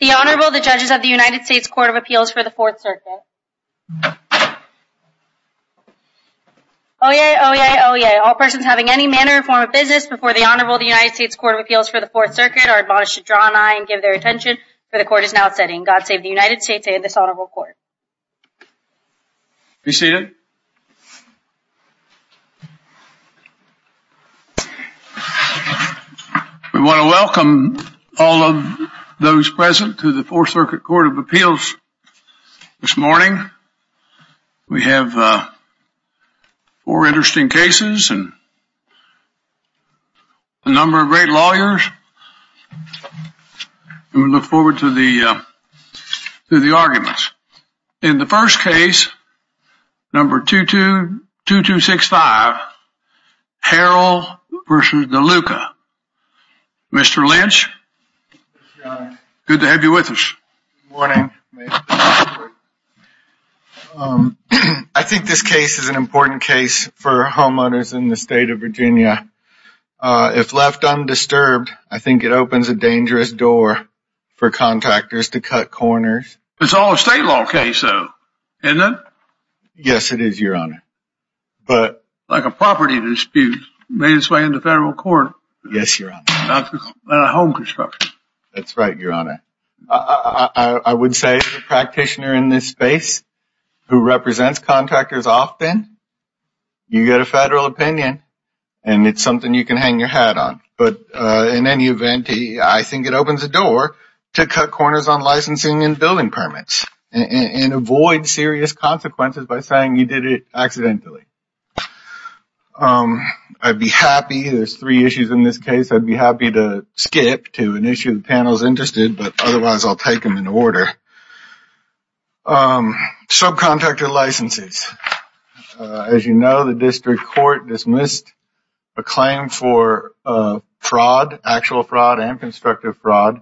The Honorable, the Judges of the United States Court of Appeals for the Fourth Circuit. Oyez! Oyez! Oyez! All persons having any manner or form of business before the Honorable of the United States Court of Appeals for the Fourth Circuit are admonished to draw an eye and give their attention, for the Court is now setting. God save the United States and this Honorable Court. Be seated. We want to welcome all of those present to the Fourth Circuit Court of Appeals this morning. We have four interesting cases and a number of great lawyers and we look forward to the arguments. In the first case, number 2265, Harrell v. Deluca. Mr. Lynch, good to have you with us. Good morning. I think this case is an important case for homeowners in the state of Virginia. If left undisturbed, I think it opens a dangerous door for contactors to cut corners. It's all a state law case, though, isn't it? Yes, it is, Your Honor. Like a property dispute made its way into federal court. Yes, Your Honor. Not a home construction. That's right, Your Honor. I would say the practitioner in this space who represents contactors often, you get a federal opinion and it's something you can hang your hat on. But in any event, I think it opens the door to cut corners on licensing and building permits and avoid serious consequences by saying you did it accidentally. I'd be happy. There's three issues in this case. I'd be happy to skip to an issue the panel is interested, but otherwise I'll take them in order. Subcontractor licenses. As you know, the district court dismissed a claim for fraud, actual fraud and constructive fraud,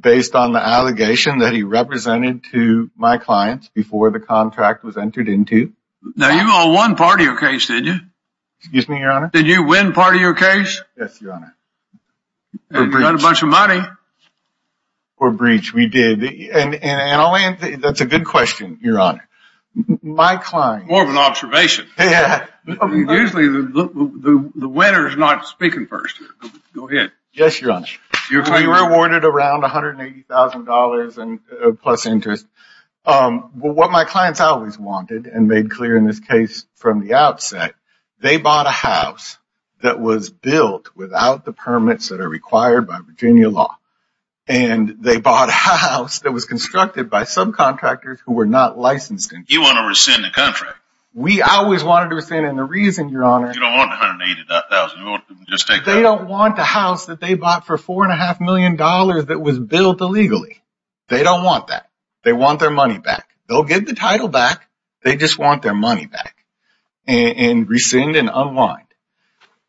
based on the allegation that he represented to my clients before the contract was entered into. Now, you all won part of your case, didn't you? Excuse me, Your Honor? Did you win part of your case? Yes, Your Honor. You got a bunch of money. We did. That's a good question, Your Honor. More of an observation. Usually, the winner is not speaking first. Go ahead. Yes, Your Honor. You were awarded around $180,000 plus interest. What my clients always wanted, and made clear in this case from the outset, they bought a house that was built without the permits that are required by Virginia law. And they bought a house that was constructed by subcontractors who were not licensed. You want to rescind the contract? We always wanted to rescind it. And the reason, Your Honor... You don't want $180,000. You want to just take that? They don't want a house that they bought for $4.5 million that was built illegally. They don't want that. They want their money back. They'll give the title back. They just want their money back. And rescind and unwind.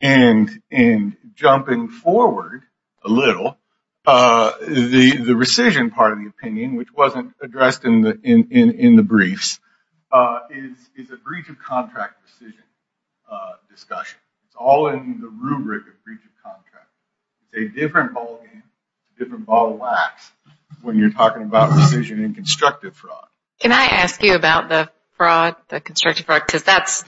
And jumping forward a little, the rescission part of the opinion, which wasn't addressed in the briefs, is a breach of contract rescission discussion. It's all in the rubric of breach of contract. It's a different ballgame, different ball of wax, when you're talking about rescission and constructive fraud. Can I ask you about the fraud, the constructive fraud? Because that's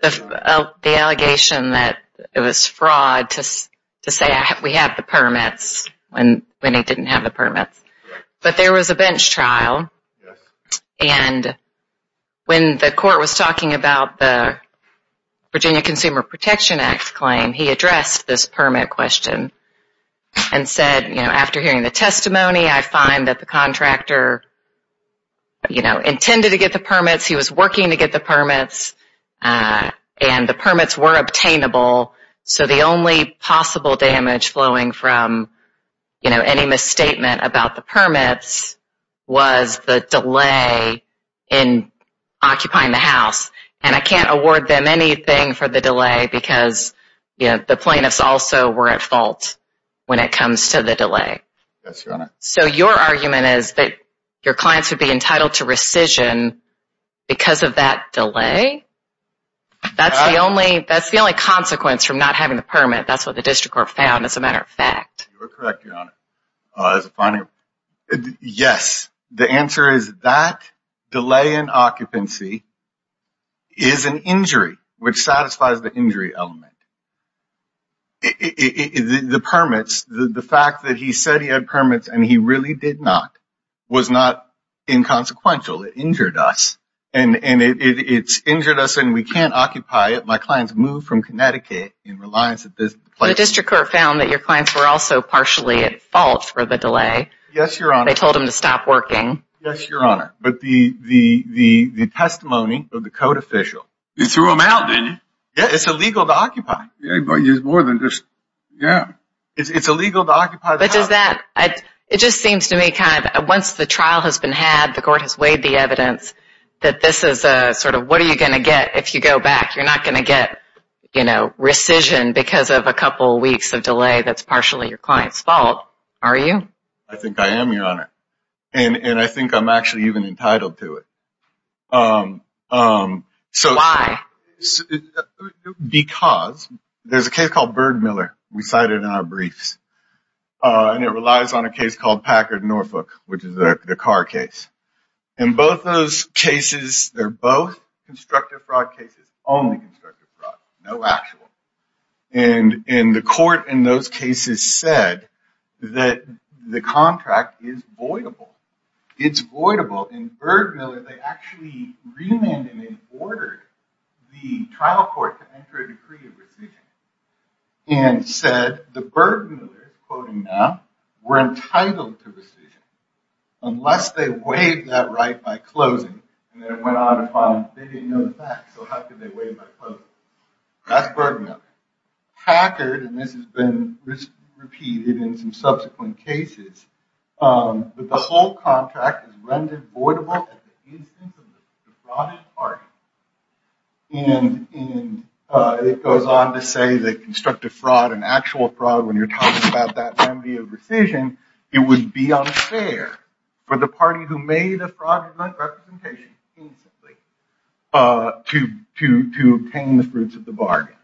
the allegation that it was fraud to say we have the permits when they didn't have the permits. But there was a bench trial. And when the court was talking about the Virginia Consumer Protection Act claim, he addressed this permit question and said, after hearing the testimony, I find that the contractor intended to get the permits. He was working to get the permits. And the permits were obtainable. So the only possible damage flowing from any misstatement about the permits was the delay in occupying the house. And I can't award them anything for the delay because the plaintiffs also were at fault when it comes to the delay. So your argument is that your clients would be entitled to rescission because of that delay? That's the only consequence from not having the permit. That's what the district court found, as a matter of fact. You're correct, Your Honor. Yes, the answer is that delay in occupancy is an injury, which satisfies the injury element. The permits, the fact that he said he had permits and he really did not, was not inconsequential. It injured us. And it's injured us and we can't occupy it. My clients moved from Connecticut in reliance on business. The district court found that your clients were also partially at fault for the delay. Yes, Your Honor. They told him to stop working. Yes, Your Honor. But the testimony of the code official. You threw him out, didn't you? Yeah, it's illegal to occupy. Yeah, but it's more than just, yeah. It's illegal to occupy the house. But does that, it just seems to me kind of, once the trial has been had, the court has weighed the evidence, that this is a sort of, what are you going to get if you go back? You're not going to get rescission because of a couple weeks of delay that's partially your client's fault, are you? I think I am, Your Honor. And I think I'm actually even entitled to it. Why? Because there's a case called Bird Miller we cited in our briefs. And it relies on a case called Packard Norfolk, which is the car case. And both those cases, they're both constructive fraud cases, only constructive fraud, no actual. And the court in those cases said that the contract is voidable. It's voidable. And Bird Miller, they actually remanded and ordered the trial court to enter a decree of rescission. And said the Bird Millers, quoting now, were entitled to rescission unless they weighed that right by closing. And then it went on upon, they didn't know the facts, so how could they weigh it by closing? That's Bird Miller. Packard, and this has been repeated in some subsequent cases, that the whole contract is rendered voidable at the instance of the defrauded party. And it goes on to say that constructive fraud and actual fraud, when you're talking about that remedy of rescission, it would be unfair for the party who made the fraudulent representation to obtain the fruits of the bargain.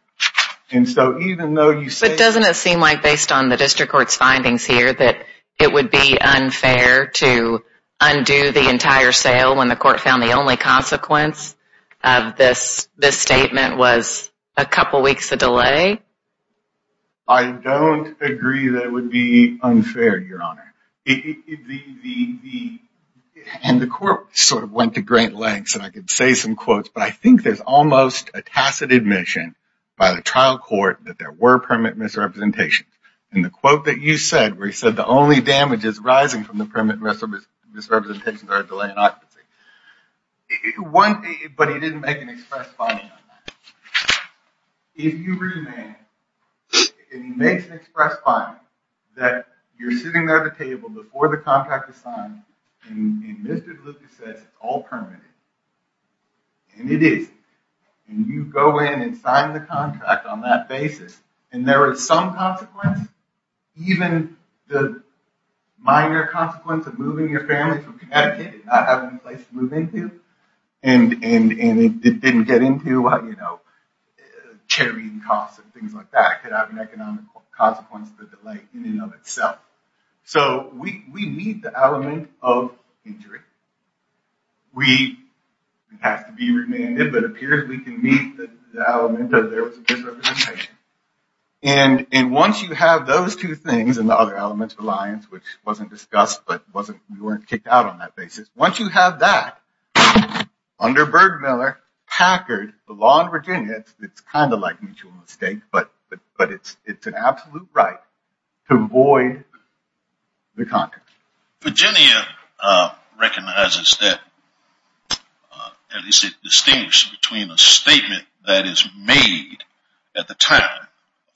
But doesn't it seem like, based on the district court's findings here, that it would be unfair to undo the entire sale when the court found the only consequence of this statement was a couple weeks of delay? I don't agree that it would be unfair, Your Honor. And the court sort of went to great lengths, and I could say some quotes, but I think there's almost a tacit admission by the trial court that there were permanent misrepresentations. And the quote that you said, where you said the only damages arising from the permanent misrepresentations are a delay in occupancy. But he didn't make an express finding on that. If you remain, and he makes an express finding, that you're sitting there at the table before the contract is signed, and Mr. Deluca says it's all permitted, and it is, and you go in and sign the contract on that basis, and there is some consequence, even the minor consequence of moving your family from Connecticut, that you did not have any place to move into, and it didn't get into, you know, carrying costs and things like that could have an economic consequence for the delay in and of itself. So we meet the element of injury. We have to be remanded, but it appears we can meet the element that there was a misrepresentation. And once you have those two things and the other elements of reliance, which wasn't discussed, but we weren't kicked out on that basis, once you have that, under Bergmiller, Packard, the law in Virginia, it's kind of like mutual mistake, but it's an absolute right to void the contract. Virginia recognizes that, at least it distinguishes between a statement that is made at the time, a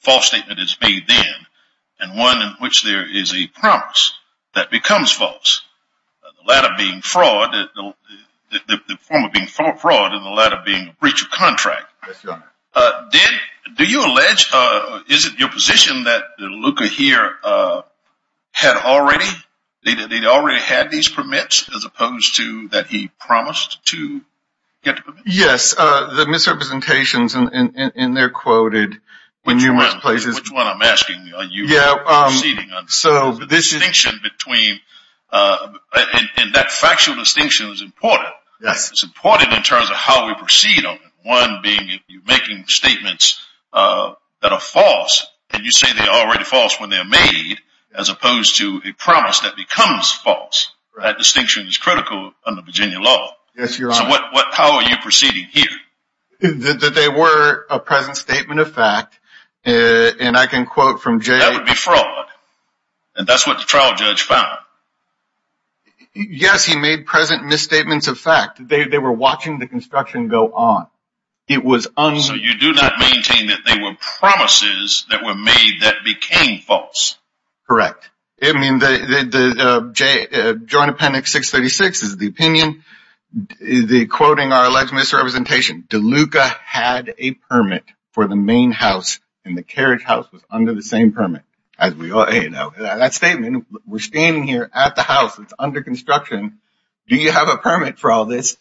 false statement is made then, and one in which there is a promise that becomes false, the latter being fraud, the former being fraud, and the latter being breach of contract. Yes, Your Honor. Did, do you allege, is it your position that Luca here had already, they'd already had these permits as opposed to that he promised to get the permits? Yes, the misrepresentations, and they're quoted in numerous places. Which one I'm asking, are you proceeding on? Yeah, so this is. The distinction between, and that factual distinction is important. Yes. It's important in terms of how we proceed on it, one being if you're making statements that are false, and you say they're already false when they're made, as opposed to a promise that becomes false, that distinction is critical under Virginia law. Yes, Your Honor. So what, how are you proceeding here? That they were a present statement of fact, and I can quote from J. That would be fraud, and that's what the trial judge found. Yes, he made present misstatements of fact. They were watching the construction go on. It was. So you do not maintain that they were promises that were made that became false. Correct. I mean, the Joint Appendix 636 is the opinion. They're quoting our alleged misrepresentation. Luca had a permit for the main house, and the carriage house was under the same permit. That statement, we're standing here at the house that's under construction. Do you have a permit for all this?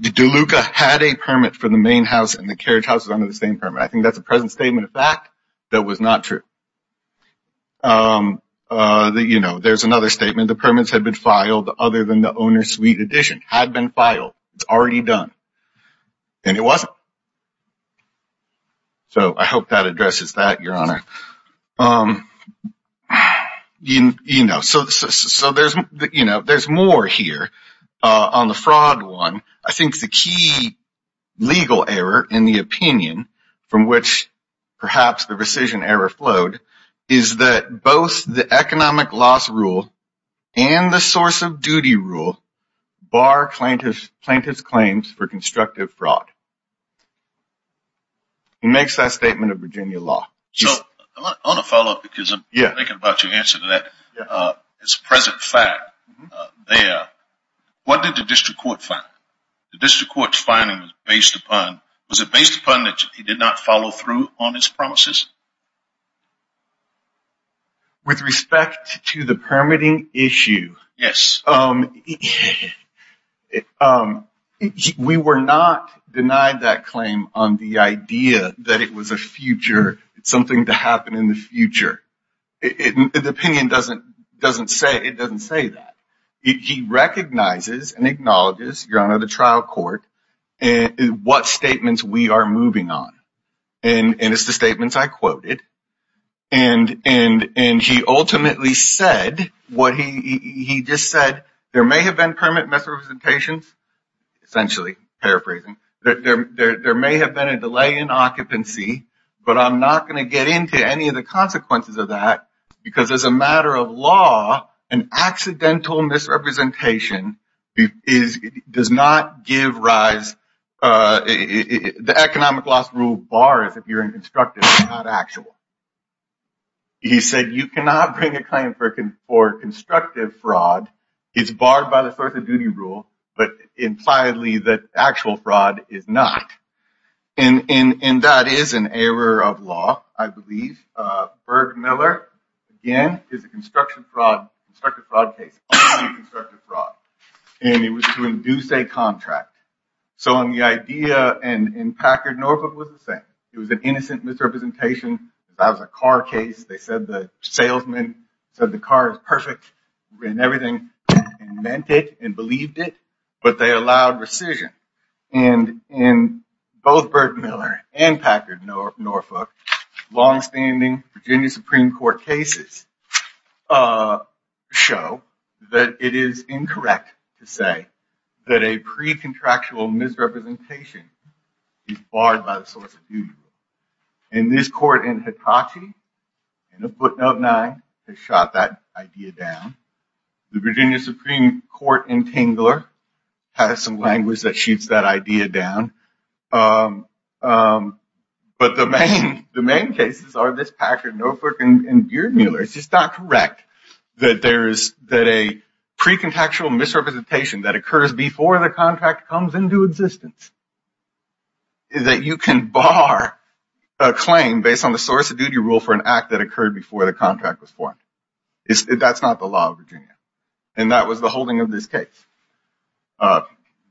Did Luca had a permit for the main house, and the carriage house was under the same permit? I think that's a present statement of fact that was not true. You know, there's another statement. The permits had been filed other than the owner's suite addition. Had been filed. It's already done. And it wasn't. So I hope that addresses that, Your Honor. You know, so there's more here on the fraud one. I think the key legal error in the opinion from which perhaps the rescission error flowed is that both the economic loss rule and the source of duty rule bar plaintiff's claims for constructive fraud. He makes that statement of Virginia law. So I want to follow up because I'm thinking about your answer to that. It's a present fact there. What did the district court find? The district court's finding was based upon, was it based upon that he did not follow through on his promises? With respect to the permitting issue. Yes. We were not denied that claim on the idea that it was a future, something to happen in the future. The opinion doesn't say that. He recognizes and acknowledges, Your Honor, the trial court, what statements we are moving on. And he ultimately said what he just said. There may have been permanent misrepresentations, essentially paraphrasing. There may have been a delay in occupancy, but I'm not going to get into any of the consequences of that because as a matter of law, an accidental misrepresentation does not give rise. The economic loss rule bars if you're in constructive, not actual. He said you cannot bring a claim for constructive fraud. It's barred by the source of duty rule, but impliedly that actual fraud is not. And that is an error of law, I believe. Berg Miller, again, is a constructive fraud case, only constructive fraud. And it was to induce a contract. So the idea in Packard Norfolk was the same. It was an innocent misrepresentation. That was a car case. They said the salesman said the car is perfect and everything and meant it and believed it. But they allowed rescission. And in both Berg Miller and Packard Norfolk, longstanding Virginia Supreme Court cases show that it is incorrect to say that a pre-contractual misrepresentation is barred by the source of duty rule. And this court in Hitachi, in a footnote 9, has shot that idea down. The Virginia Supreme Court in Tingler has some language that shoots that idea down. But the main cases are this Packard Norfolk and Berg Miller. It's just not correct that a pre-contactual misrepresentation that occurs before the contract comes into existence is that you can bar a claim based on the source of duty rule for an act that occurred before the contract was formed. That's not the law of Virginia. And that was the holding of this case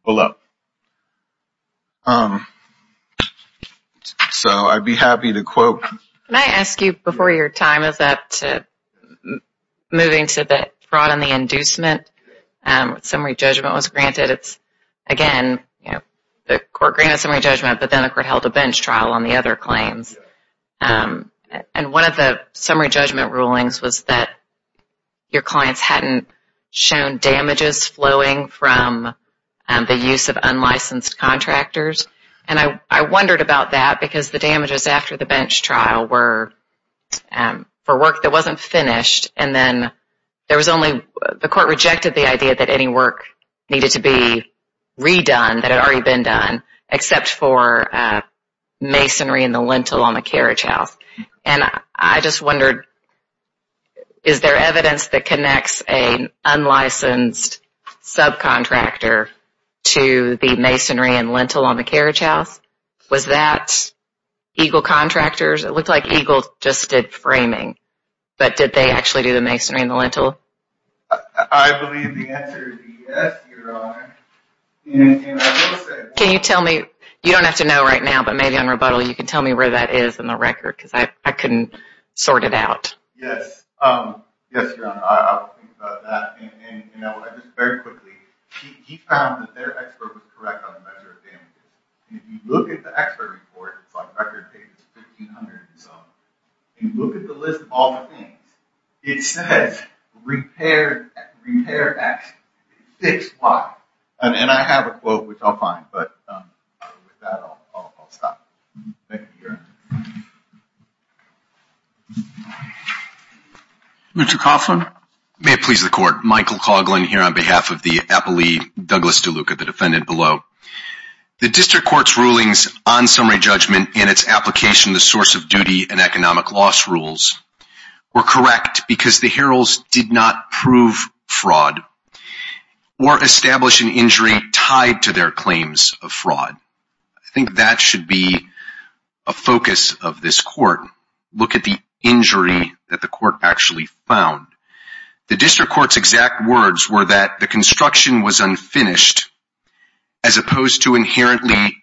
below. So I'd be happy to quote. Can I ask you, before your time is up, moving to the fraud and the inducement, summary judgment was granted. It's, again, the court granted summary judgment, but then the court held a bench trial on the other claims. And one of the summary judgment rulings was that your clients hadn't shown damages flowing from the use of unlicensed contractors. And I wondered about that because the damages after the bench trial were for work that wasn't finished. And then there was only, the court rejected the idea that any work needed to be redone that had already been done, except for masonry and the lintel on the carriage house. And I just wondered, is there evidence that connects an unlicensed subcontractor to the masonry and lintel on the carriage house? Was that Eagle Contractors? It looked like Eagle just did framing. But did they actually do the masonry and the lintel? I believe the answer is yes, Your Honor. Can you tell me? You don't have to know right now, but maybe on rebuttal you can tell me where that is in the record because I couldn't sort it out. Yes. Yes, Your Honor, I will think about that. And just very quickly, he found that their expert was correct on the measure of damages. And if you look at the expert report, it's on record pages 1,500 and so on, and you look at the list of all the things, it says repair accident, 6Y. And I have a quote, which I'll find, but with that I'll stop. Thank you, Your Honor. Mr. Coughlin. May it please the court. Michael Coughlin here on behalf of the Appalachee Douglas DeLuca, the defendant below. The district court's rulings on summary judgment and its application of the source of duty and economic loss rules were correct because the heralds did not prove fraud or establish an injury tied to their claims of fraud. I think that should be a focus of this court. Look at the injury that the court actually found. The district court's exact words were that the construction was unfinished as opposed to inherently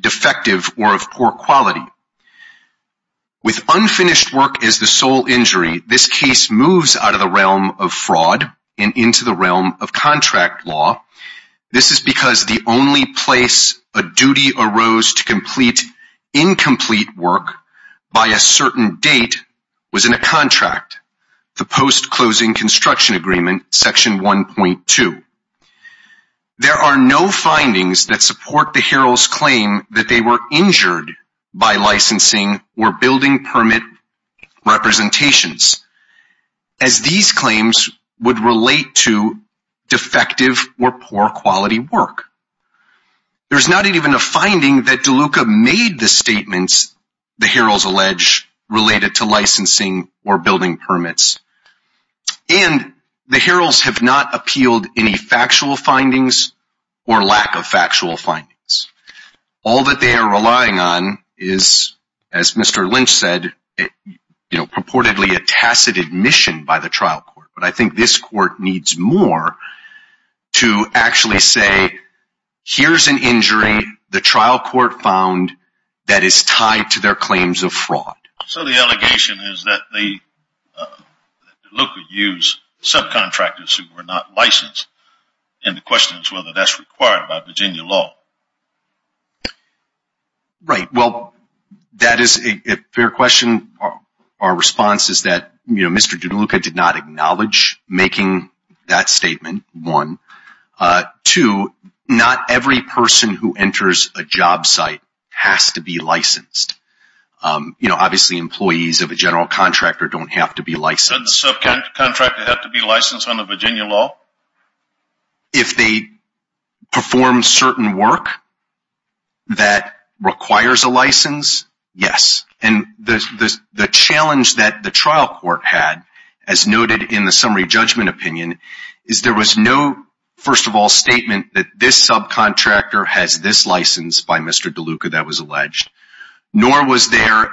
defective or of poor quality. With unfinished work as the sole injury, this case moves out of the realm of fraud and into the realm of contract law. This is because the only place a duty arose to complete incomplete work by a certain date was in a contract. The post-closing construction agreement, section 1.2. There are no findings that support the herald's claim that they were injured by licensing or building permit representations, as these claims would relate to defective or poor quality work. There's not even a finding that DeLuca made the statements the heralds allege related to licensing or building permits. And the heralds have not appealed any factual findings or lack of factual findings. All that they are relying on is, as Mr. Lynch said, purportedly a tacit admission by the trial court. But I think this court needs more to actually say, here's an injury the trial court found that is tied to their claims of fraud. So the allegation is that DeLuca used subcontractors who were not licensed. And the question is whether that's required by Virginia law. Right. Well, that is a fair question. Our response is that Mr. DeLuca did not acknowledge making that statement, one. Two, not every person who enters a job site has to be licensed. Obviously, employees of a general contractor don't have to be licensed. Does the subcontractor have to be licensed under Virginia law? If they perform certain work that requires a license, yes. And the challenge that the trial court had, as noted in the summary judgment opinion, is there was no, first of all, statement that this subcontractor has this license by Mr. DeLuca that was alleged. Nor was there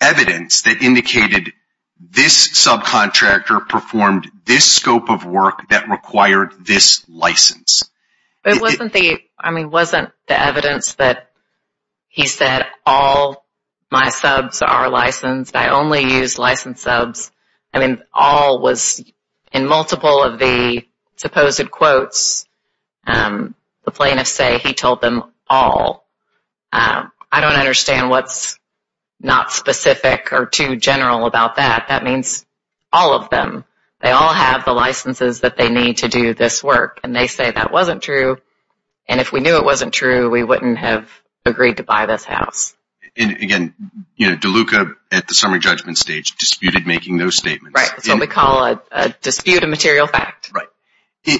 evidence that indicated this subcontractor performed this scope of work that required this license. It wasn't the evidence that he said all my subs are licensed. I only use licensed subs. I mean, all was in multiple of the supposed quotes. The plaintiffs say he told them all. I don't understand what's not specific or too general about that. That means all of them. They all have the licenses that they need to do this work. And they say that wasn't true. And if we knew it wasn't true, we wouldn't have agreed to buy this house. And, again, DeLuca at the summary judgment stage disputed making those statements. Right. That's what we call a dispute of material fact. Right.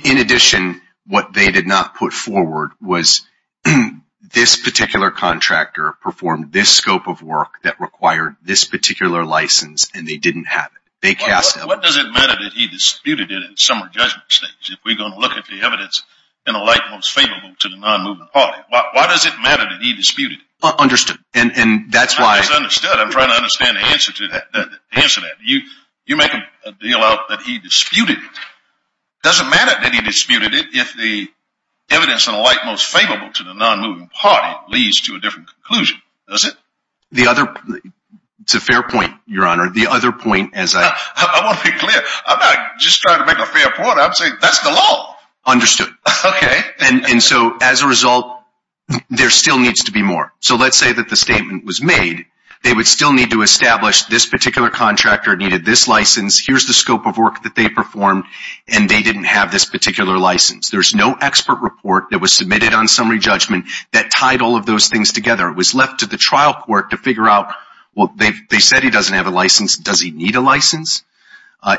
In addition, what they did not put forward was this particular contractor performed this scope of work that required this particular license, and they didn't have it. What does it matter that he disputed it at the summary judgment stage if we're going to look at the evidence in a light most favorable to the non-moving party? Why does it matter that he disputed it? Understood. I'm trying to understand the answer to that. You make a deal out that he disputed it. It doesn't matter that he disputed it if the evidence in a light most favorable to the non-moving party leads to a different conclusion, does it? It's a fair point, Your Honor. I want to be clear. I'm not just trying to make a fair point. I'm saying that's the law. Understood. Okay. As a result, there still needs to be more. Let's say that the statement was made. They would still need to establish this particular contractor needed this license. Here's the scope of work that they performed, and they didn't have this particular license. There's no expert report that was submitted on summary judgment that tied all of those things together. It was left to the trial court to figure out, well, they said he doesn't have a license. Does he need a license?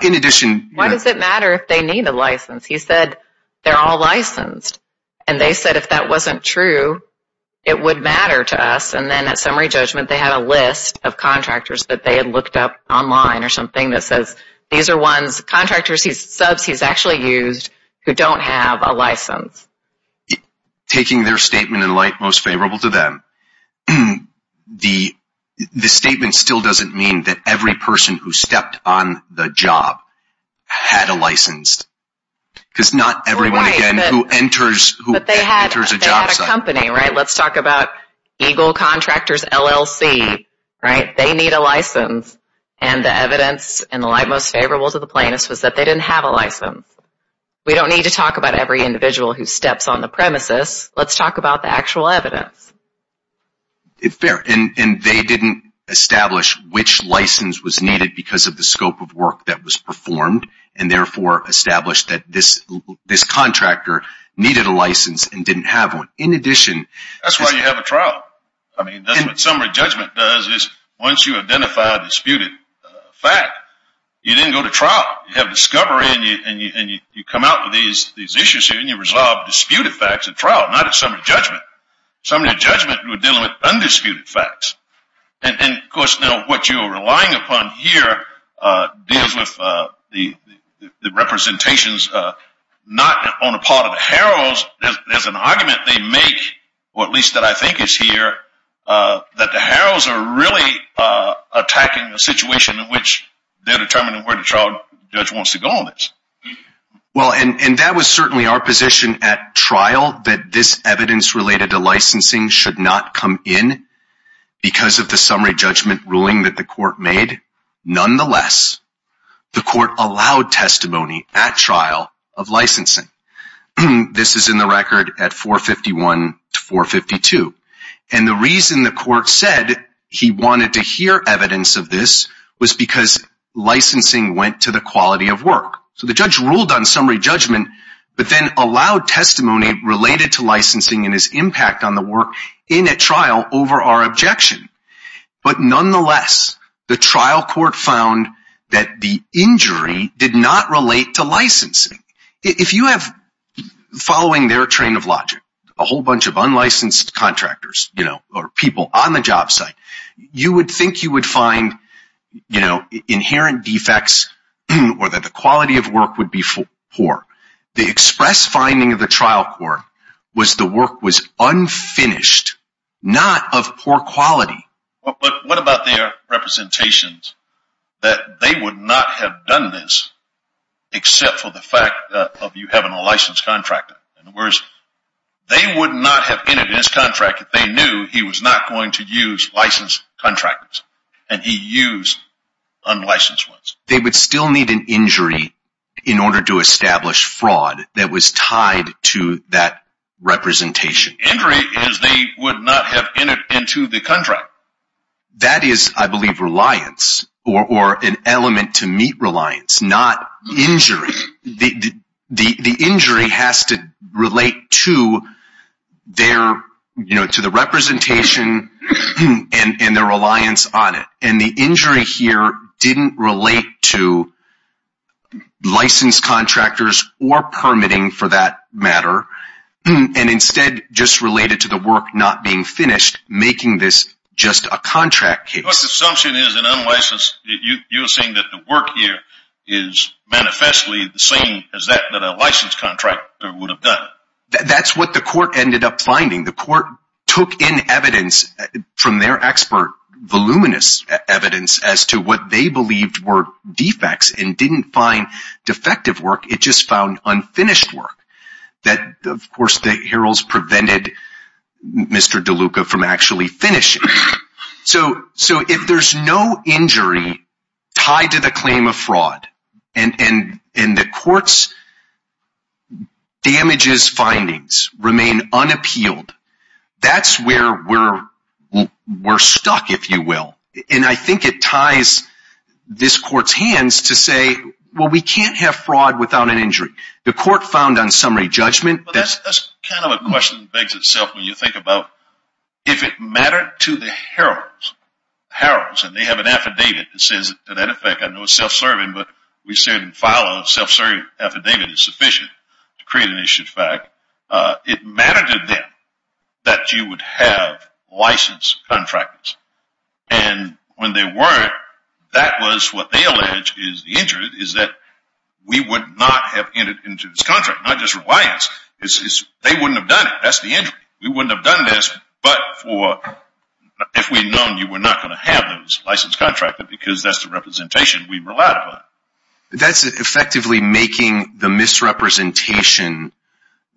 In addition… Why does it matter if they need a license? He said they're all licensed, and they said if that wasn't true, it would matter to us. And then at summary judgment, they had a list of contractors that they had looked up online or something that says these are ones, contractors, subs he's actually used, who don't have a license. Taking their statement in light most favorable to them, the statement still doesn't mean that every person who stepped on the job had a license. Because not everyone, again, who enters a job site… But they had a company, right? Let's talk about Eagle Contractors LLC, right? They need a license, and the evidence in the light most favorable to the plaintiffs was that they didn't have a license. We don't need to talk about every individual who steps on the premises. Let's talk about the actual evidence. It's fair, and they didn't establish which license was needed because of the scope of work that was performed, and therefore established that this contractor needed a license and didn't have one. In addition… That's why you have a trial. I mean, that's what summary judgment does is once you identify a disputed fact, you then go to trial. You have discovery, and you come out with these issues here, and you resolve disputed facts at trial, not at summary judgment. Summary judgment would deal with undisputed facts. And, of course, now what you're relying upon here deals with the representations not on the part of the heralds. There's an argument they make, or at least that I think is here, that the heralds are really attacking the situation in which they're determining where the trial judge wants to go on this. Well, and that was certainly our position at trial, that this evidence related to licensing should not come in because of the summary judgment ruling that the court made. Nonetheless, the court allowed testimony at trial of licensing. This is in the record at 451 to 452. And the reason the court said he wanted to hear evidence of this was because licensing went to the quality of work. So the judge ruled on summary judgment, but then allowed testimony related to licensing and its impact on the work in a trial over our objection. But nonetheless, the trial court found that the injury did not relate to licensing. If you have, following their train of logic, a whole bunch of unlicensed contractors, you know, or people on the job site, you would think you would find, you know, inherent defects or that the quality of work would be poor. The express finding of the trial court was the work was unfinished, not of poor quality. But what about their representations that they would not have done this except for the fact of you having a licensed contractor? In other words, they would not have entered this contract if they knew he was not going to use licensed contractors and he used unlicensed ones. They would still need an injury in order to establish fraud that was tied to that representation. Injury is they would not have entered into the contract. That is, I believe, reliance or an element to meet reliance, not injury. The injury has to relate to their, you know, to the representation and their reliance on it. And the injury here didn't relate to licensed contractors or permitting, for that matter, and instead just related to the work not being finished, making this just a contract case. Your assumption is an unlicensed, you're saying that the work here is manifestly the same as that that a licensed contractor would have done. That's what the court ended up finding. The court took in evidence from their expert, voluminous evidence, as to what they believed were defects and didn't find defective work. It just found unfinished work that, of course, the heralds prevented Mr. DeLuca from actually finishing. So if there's no injury tied to the claim of fraud and the court's damages findings remain unappealed, that's where we're stuck, if you will. And I think it ties this court's hands to say, well, we can't have fraud without an injury. But that's kind of a question that begs itself when you think about if it mattered to the heralds, and they have an affidavit that says, to that effect, I know it's self-serving, but we say in the file a self-serving affidavit is sufficient to create an issue of fact, it mattered to them that you would have licensed contractors. And when they weren't, that was what they alleged is the injury, is that we would not have entered into this contract, not just reliance. They wouldn't have done it. That's the injury. We wouldn't have done this, but if we'd known, you were not going to have those licensed contractors because that's the representation we relied upon. That's effectively making the misrepresentation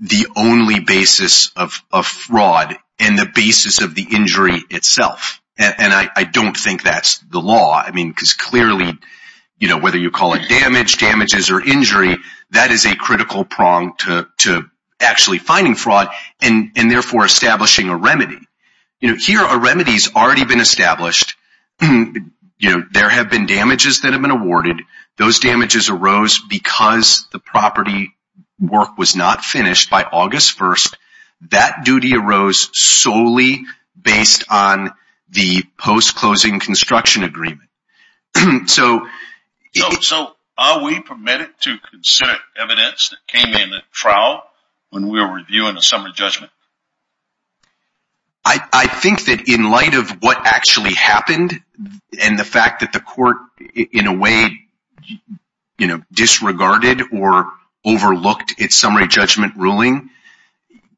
the only basis of fraud and the basis of the injury itself. And I don't think that's the law. I mean, because clearly, whether you call it damage, damages, or injury, that is a critical prong to actually finding fraud and therefore establishing a remedy. Here, a remedy has already been established. There have been damages that have been awarded. Those damages arose because the property work was not finished by August 1st. That duty arose solely based on the post-closing construction agreement. So, are we permitted to consider evidence that came in the trial when we were reviewing the summary judgment? I think that in light of what actually happened and the fact that the court, in a way, disregarded or overlooked its summary judgment ruling,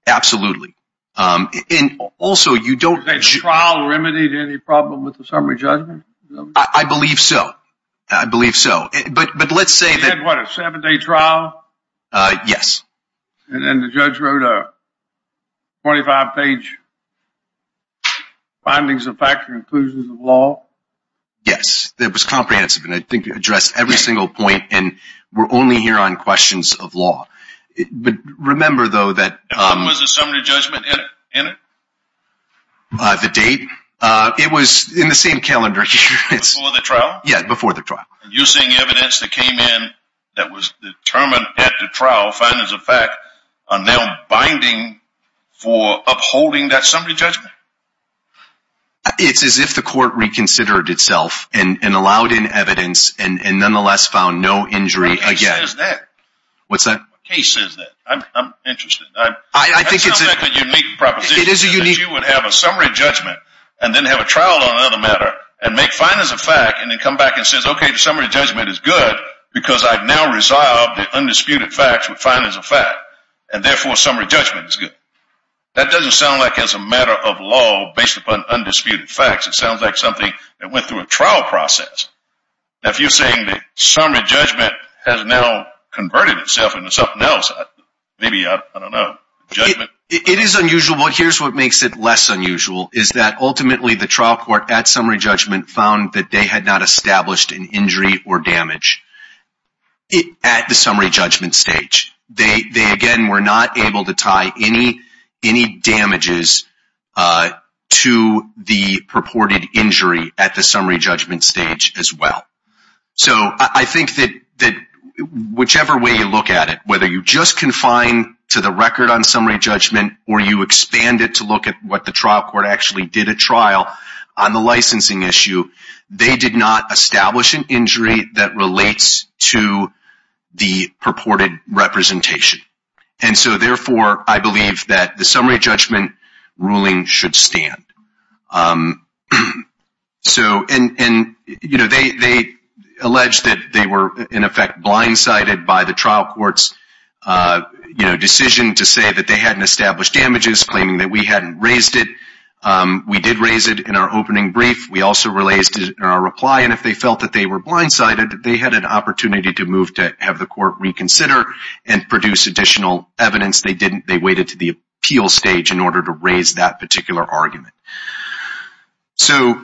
absolutely. And also, you don't… You're saying the trial remedied any problem with the summary judgment? I believe so. I believe so. But let's say that… You said, what, a seven-day trial? Yes. And the judge wrote a 25-page findings of fact and conclusions of law? Yes. It was comprehensive, and I think it addressed every single point, and we're only here on questions of law. But remember, though, that… When was the summary judgment in it? The date? It was in the same calendar year. Before the trial? Yes, before the trial. And you're saying evidence that came in that was determined at the trial, findings of fact, are now binding for upholding that summary judgment? It's as if the court reconsidered itself and allowed in evidence and nonetheless found no injury again. What case says that? What's that? What case says that? I'm interested. I think it's… That sounds like a unique proposition. It is a unique… And then have a trial on another matter and make findings of fact and then come back and say, okay, the summary judgment is good because I've now resolved the undisputed facts with findings of fact, and therefore summary judgment is good. That doesn't sound like it's a matter of law based upon undisputed facts. It sounds like something that went through a trial process. Now, if you're saying that summary judgment has now converted itself into something else, maybe, I don't know, judgment… What makes it less unusual is that ultimately the trial court at summary judgment found that they had not established an injury or damage at the summary judgment stage. They, again, were not able to tie any damages to the purported injury at the summary judgment stage as well. So I think that whichever way you look at it, whether you just confine to the record on summary judgment or you expand it to look at what the trial court actually did at trial on the licensing issue, they did not establish an injury that relates to the purported representation. And so, therefore, I believe that the summary judgment ruling should stand. They alleged that they were, in effect, blindsided by the trial court's decision to say that they hadn't established damages, claiming that we hadn't raised it. We did raise it in our opening brief. We also raised it in our reply, and if they felt that they were blindsided, they had an opportunity to move to have the court reconsider and produce additional evidence. They waited to the appeal stage in order to raise that particular argument. So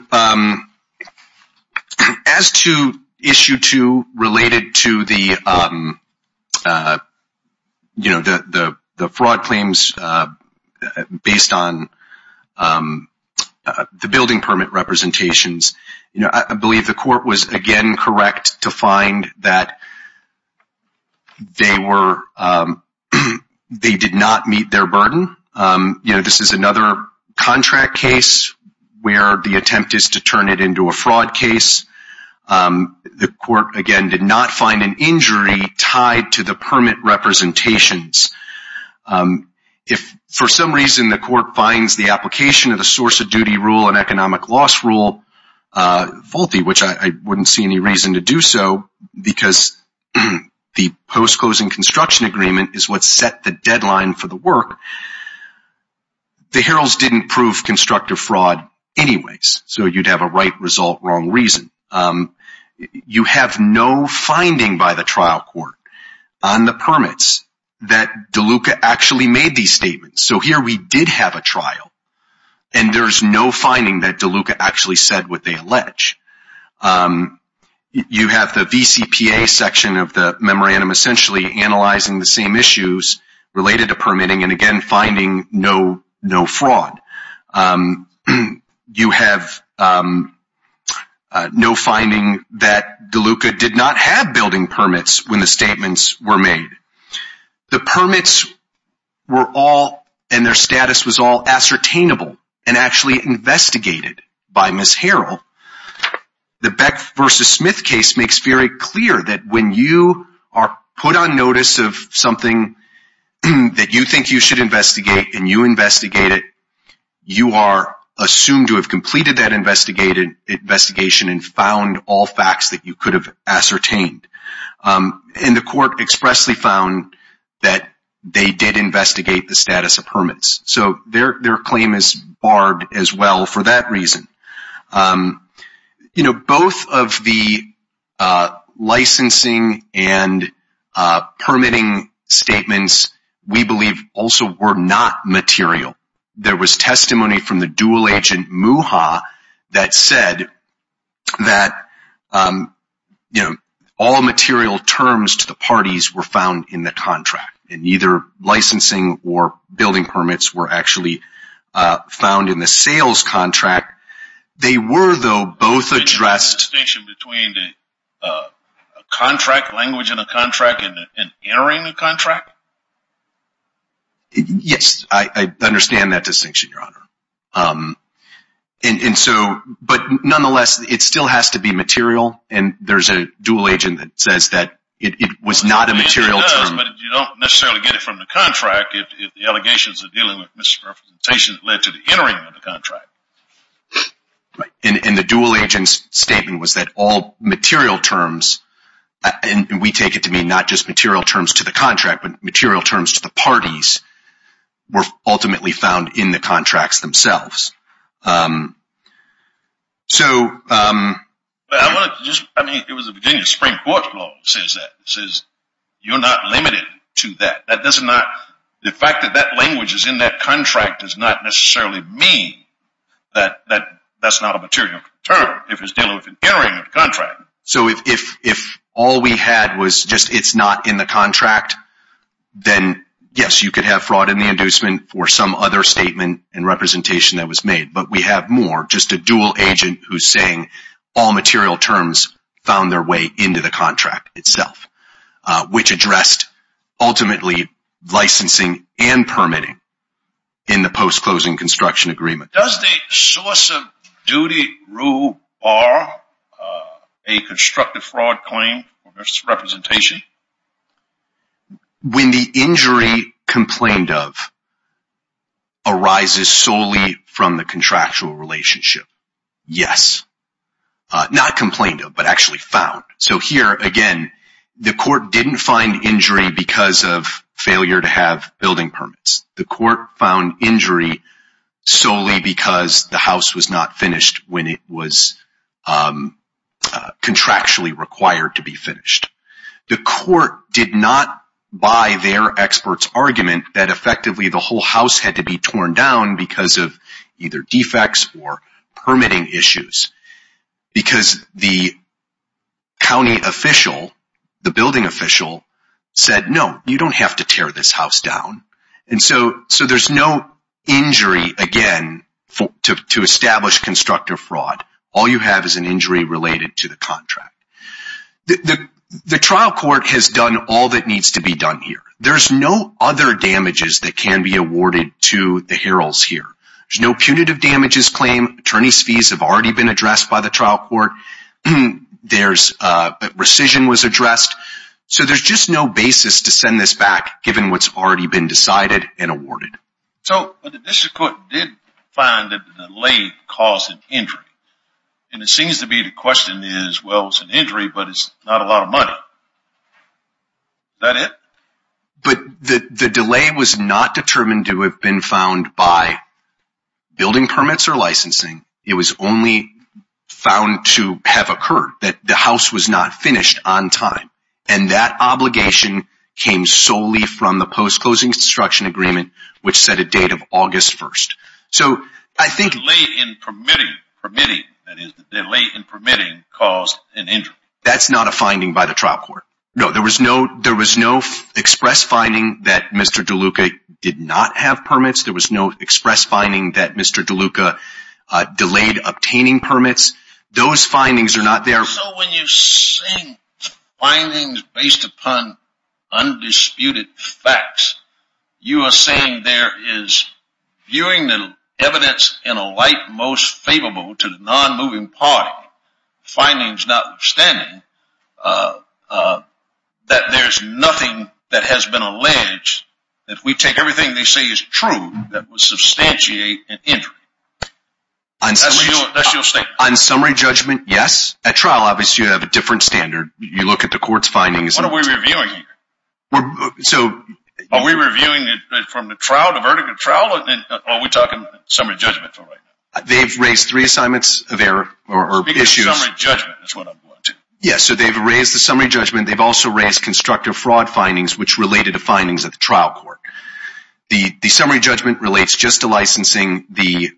as to issue two related to the fraud claims based on the building permit representations, I believe the court was, again, correct to find that they did not meet their burden. You know, this is another contract case where the attempt is to turn it into a fraud case. The court, again, did not find an injury tied to the permit representations. If for some reason the court finds the application of the source of duty rule and economic loss rule faulty, which I wouldn't see any reason to do so, because the post-closing construction agreement is what set the deadline for the work, the heralds didn't prove constructive fraud anyways. So you'd have a right result, wrong reason. You have no finding by the trial court on the permits that DeLuca actually made these statements. So here we did have a trial, and there's no finding that DeLuca actually said what they allege. You have the VCPA section of the memorandum essentially analyzing the same issues related to permitting and, again, finding no fraud. You have no finding that DeLuca did not have building permits when the statements were made. The permits were all, and their status was all, ascertainable and actually investigated by Ms. Harrell. The Beck v. Smith case makes very clear that when you are put on notice of something that you think you should investigate and you investigate it, you are assumed to have completed that investigation and found all facts that you could have ascertained. And the court expressly found that they did investigate the status of permits. So their claim is barred as well for that reason. Both of the licensing and permitting statements, we believe, also were not material. There was testimony from the dual agent, MUHA, that said that all material terms to the parties were found in the contract. And neither licensing or building permits were actually found in the sales contract. They were, though, both addressed... A distinction between a contract, language in a contract, and entering a contract? Yes, I understand that distinction, Your Honor. But nonetheless, it still has to be material, and there's a dual agent that says that it was not a material term. But you don't necessarily get it from the contract if the allegations of dealing with misrepresentation led to the entering of the contract. And the dual agent's statement was that all material terms, and we take it to mean not just material terms to the contract, but material terms to the parties, were ultimately found in the contracts themselves. It was the beginning of the Supreme Court's law that says that. It says you're not limited to that. The fact that that language is in that contract does not necessarily mean that that's not a material term if it's dealing with entering a contract. So if all we had was just it's not in the contract, then yes, you could have fraud in the inducement or some other statement and representation that was made. But we have more, just a dual agent who's saying all material terms found their way into the contract itself, which addressed ultimately licensing and permitting in the post-closing construction agreement. Does the source of duty rule bar a constructive fraud claim or misrepresentation? When the injury complained of arises solely from the contractual relationship, yes. Not complained of, but actually found. So here, again, the court didn't find injury because of failure to have building permits. The court found injury solely because the house was not finished when it was contractually required to be finished. The court did not buy their expert's argument that effectively the whole house had to be torn down because of either defects or permitting issues. Because the county official, the building official, said no, you don't have to tear this house down. And so there's no injury, again, to establish constructive fraud. All you have is an injury related to the contract. The trial court has done all that needs to be done here. There's no other damages that can be awarded to the heralds here. There's no punitive damages claim. Attorney's fees have already been addressed by the trial court. There's, rescission was addressed. So there's just no basis to send this back, given what's already been decided and awarded. So the district court did find that the delay caused an injury. And it seems to be the question is, well, it's an injury, but it's not a lot of money. Is that it? But the delay was not determined to have been found by building permits or licensing. It was only found to have occurred, that the house was not finished on time. And that obligation came solely from the post-closing construction agreement, which set a date of August 1st. So I think. Delay in permitting, that is, delay in permitting caused an injury. That's not a finding by the trial court. No, there was no express finding that Mr. DeLuca did not have permits. There was no express finding that Mr. DeLuca delayed obtaining permits. Those findings are not there. So when you say findings based upon undisputed facts, you are saying there is viewing the evidence in a light most favorable to the non-moving party. Findings notwithstanding, that there's nothing that has been alleged. If we take everything they say is true, that would substantiate an injury. That's your statement. On summary judgment, yes. At trial, obviously, you have a different standard. You look at the court's findings. What are we reviewing here? Are we reviewing it from the trial, the verdict of trial? Or are we talking summary judgment for right now? They've raised three assignments of error or issues. Because summary judgment is what I'm going to. Yes, so they've raised the summary judgment. They've also raised constructive fraud findings, which related to findings at the trial court. The summary judgment relates just to licensing. The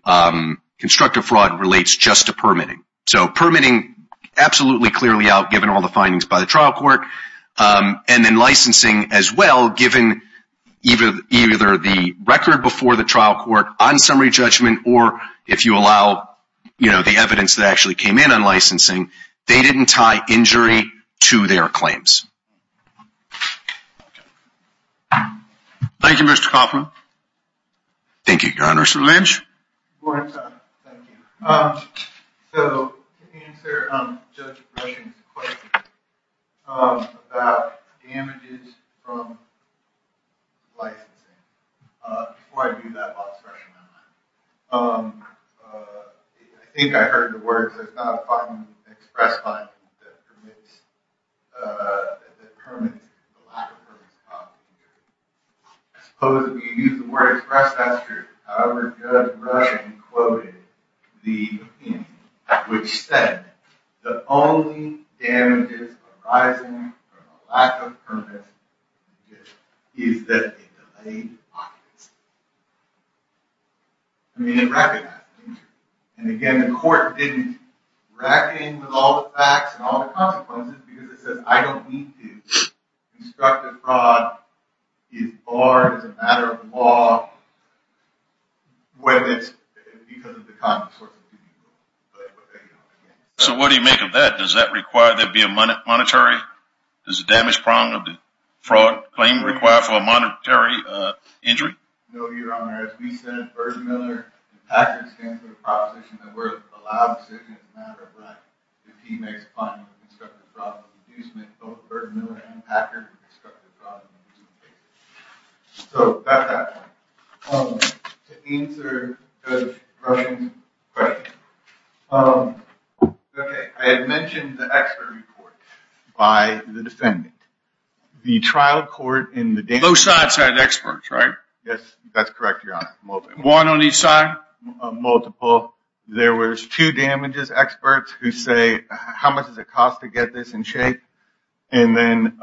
constructive fraud relates just to permitting. So permitting, absolutely clearly out, given all the findings by the trial court. And then licensing as well, given either the record before the trial court on summary judgment or if you allow the evidence that actually came in on licensing. They didn't tie injury to their claims. Thank you, Mr. Coffman. Thank you, Your Honor. Mr. Lynch. Thank you. So to answer Judge Rushing's question about damages from licensing, before I do that last question, I think I heard the words, I suppose if you use the word express, that's true. However, Judge Rushing quoted the opinion, which said, The only damages arising from a lack of permits is that it delayed licensing. I mean, it recognized injury. And again, the court didn't rack in with all the facts and all the consequences because it says, I don't need to. Constructive fraud is barred as a matter of law whether it's because of the common source of injury. So what do you make of that? Does that require there be a monetary? Does the damage prong of the fraud claim require for a monetary injury? No, Your Honor. As we said, Bergmuller and Packard stand for the proposition that we're allowed to make a decision as a matter of right. If he makes a fine with constructive fraud, both Bergmuller and Packard with constructive fraud. So that's that. To answer Judge Rushing's question. Okay. I had mentioned the expert report by the defendant. The trial court in the day. Both sides had experts, right? Yes, that's correct, Your Honor. One on each side? Multiple. There was two damages experts who say, how much does it cost to get this in shape? And then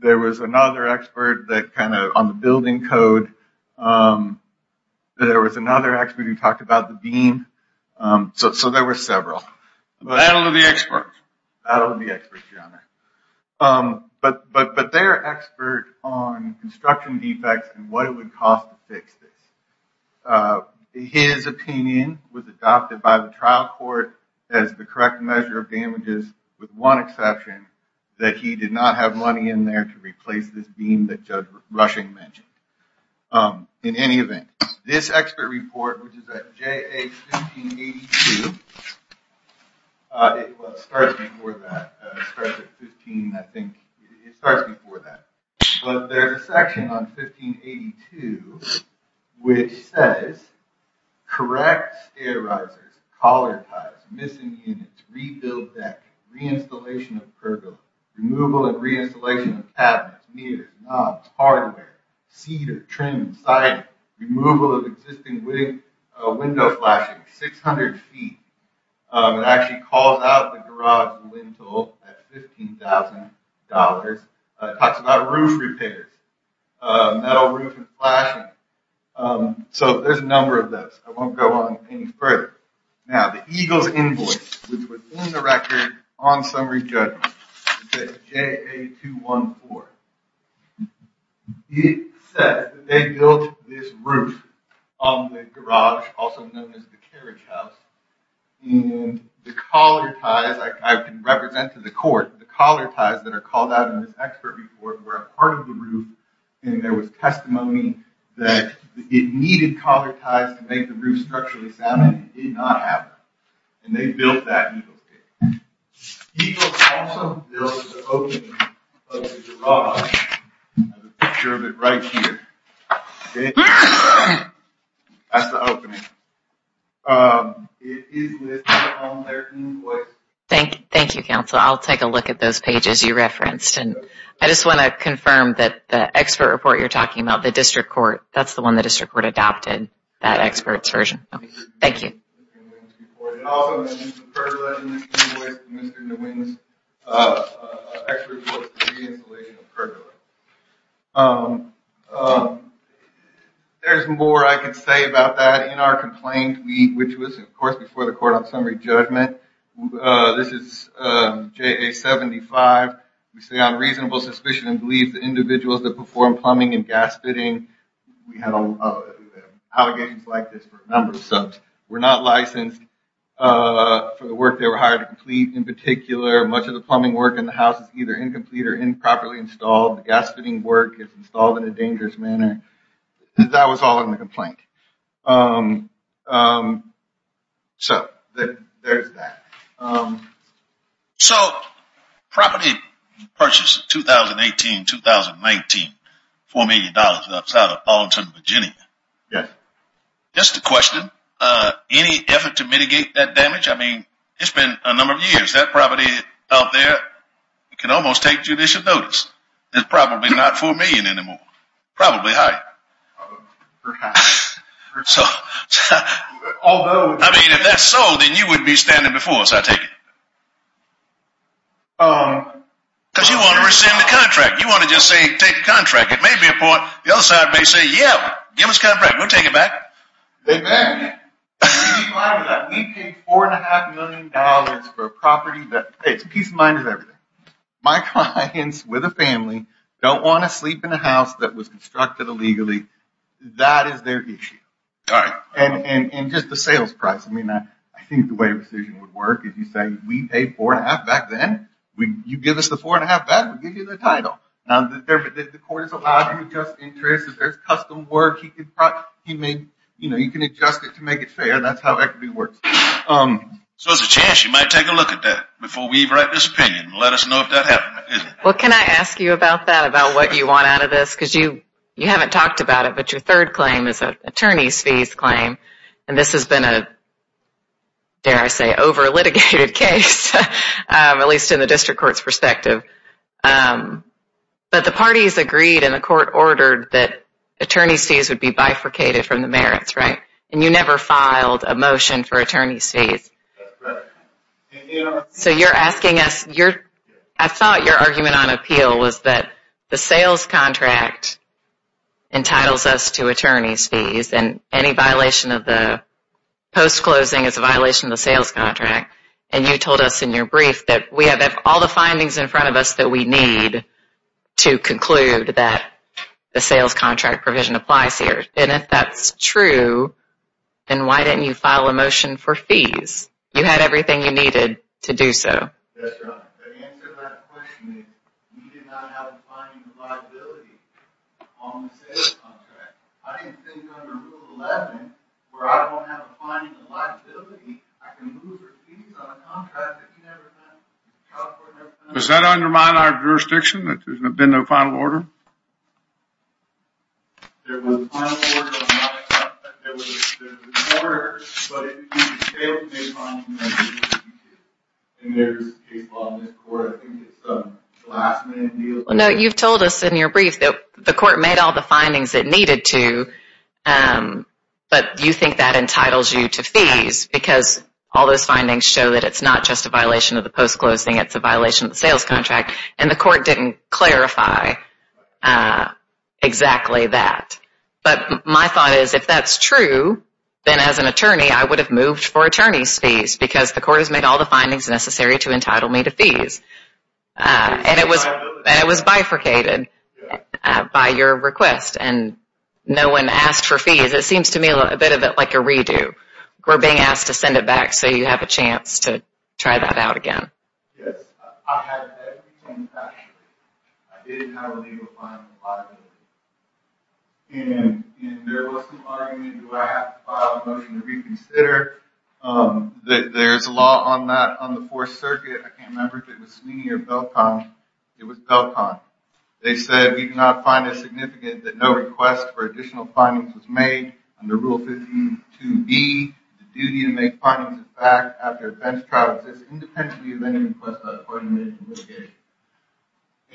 there was another expert that kind of on the building code. There was another expert who talked about the beam. So there were several. Battle of the experts. Battle of the experts, Your Honor. But they're experts on construction defects and what it would cost to fix this. His opinion was adopted by the trial court as the correct measure of damages with one exception, that he did not have money in there to replace this beam that Judge Rushing mentioned. In any event, this expert report, which is at JA 1582. It starts before that. It starts at 15, I think. It starts before that. But there's a section on 1582 which says, correct stair risers, collar ties, missing units, rebuild deck, reinstallation of pergola, removal and reinstallation of cabinets, meters, knobs, hardware, cedar, trim, siding, removal of existing window flashing, 600 feet. It actually calls out the garage rental at $15,000. It talks about roof repairs, metal roof and flashing. So there's a number of this. I won't go on any further. Now, the EGLE's invoice, which was in the record on summary judgment. It says JA 214. It says that they built this roof on the garage, also known as the carriage house. And the collar ties, I can represent to the court, the collar ties that are called out in this expert report were a part of the roof. And there was testimony that it needed collar ties to make the roof structurally sound and it did not have them. And they built that EGLE's case. EGLE also built the opening of the garage. I have a picture of it right here. That's the opening. It is listed on their invoice. Thank you, counsel. I'll take a look at those pages you referenced. I just want to confirm that the expert report you're talking about, the district court, that's the one the district court adopted. That expert's version. Thank you. There's more I can say about that. In our complaint, which was of course before the court on summary judgment, this is JA 75. We say on reasonable suspicion and believe the individuals that perform plumbing and gas fitting, we had allegations like this for a number of subs, were not licensed for the work they were hired to complete. In particular, much of the plumbing work in the house is either incomplete or improperly installed. The gas fitting work is installed in a dangerous manner. That was all in the complaint. So there's that. So property purchase, 2018-2019, $4 million outside of Ballington, Virginia. Yes. Just a question. Any effort to mitigate that damage? I mean, it's been a number of years. That property out there can almost take judicial notice. It's probably not $4 million anymore. Probably higher. Perhaps. I mean, if that's so, then you would be standing before us, I take it. Because you want to rescind the contract. You want to just say take the contract. It may be a point. The other side may say, yeah, give us the contract. We'll take it back. They may. We paid $4.5 million for a property that takes peace of mind of everything. My clients with a family don't want to sleep in a house that was constructed illegally. That is their issue. All right. And just the sales price. I mean, I think the way a rescission would work is you say we paid $4.5 back then. You give us the $4.5 back, we'll give you the title. Now, the court is allowed to adjust interest. If there's custom work, you can adjust it to make it fair. That's how equity works. So there's a chance you might take a look at that before we write this opinion and let us know if that happened. Well, can I ask you about that, about what you want out of this? Because you haven't talked about it, but your third claim is an attorney's fees claim. And this has been a, dare I say, over-litigated case, at least in the district court's perspective. But the parties agreed and the court ordered that attorney's fees would be bifurcated from the merits, right? So you're asking us, I thought your argument on appeal was that the sales contract entitles us to attorney's fees and any violation of the post-closing is a violation of the sales contract. And you told us in your brief that we have all the findings in front of us that we need to conclude that the sales contract provision applies here. And if that's true, then why didn't you file a motion for fees? You had everything you needed to do so. That's right. The answer to that question is we did not have a finding of liability on the sales contract. I didn't think under Rule 11, where I don't have a finding of liability, I can move your fees on a contract that you never signed. Does that undermine our jurisdiction that there's been no final order? There was a final order. There was an order, but it failed to pay fines. And there's a case law in this court. I think it's a last minute deal. No, you've told us in your brief that the court made all the findings it needed to, but you think that entitles you to fees because all those findings show that it's not just a violation of the post-closing. It's a violation of the sales contract. And the court didn't clarify exactly that. But my thought is if that's true, then as an attorney, I would have moved for attorney's fees because the court has made all the findings necessary to entitle me to fees. And it was bifurcated by your request. And no one asked for fees. It seems to me a bit of it like a redo. We're being asked to send it back so you have a chance to try that out again. Yes, I had everything calculated. I did have a legal fine for liability. And there was some argument, do I have to file a motion to reconsider? There's a law on that on the Fourth Circuit. I can't remember if it was Sweeney or Belcon. It was Belcon. They said we did not find it significant that no request for additional findings was made. Under Rule 52B, the duty to make finals is back after a defense trial exists independently of any request by the court. And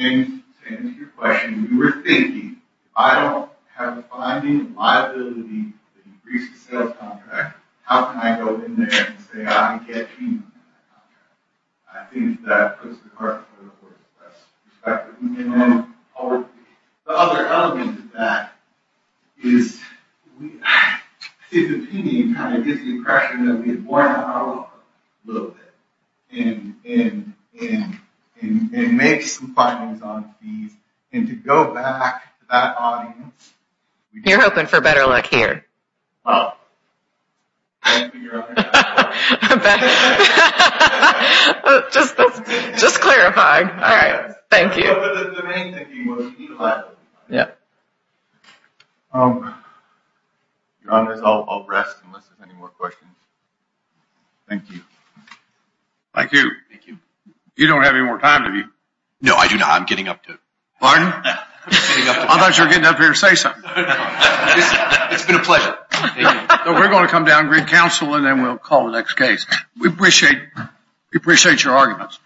it's your question. We were thinking, if I don't have a finding of liability to increase the sales contract, how can I go in there and say I get you? The other element to that is his opinion kind of gives the impression that we have worn him out a little bit. And make some findings on fees. And to go back to that audience. You're hoping for better luck here. Well, I can't figure out how to do that. Just clarifying. All right. Thank you. The main thing was he left. Yeah. Your Honor, I'll rest unless there's any more questions. Thank you. Thank you. You don't have any more time, do you? No, I do not. I'm getting up to it. Pardon? I thought you were getting up here to say something. It's been a pleasure. We're going to come down and read counsel and then we'll call the next case. We appreciate your arguments.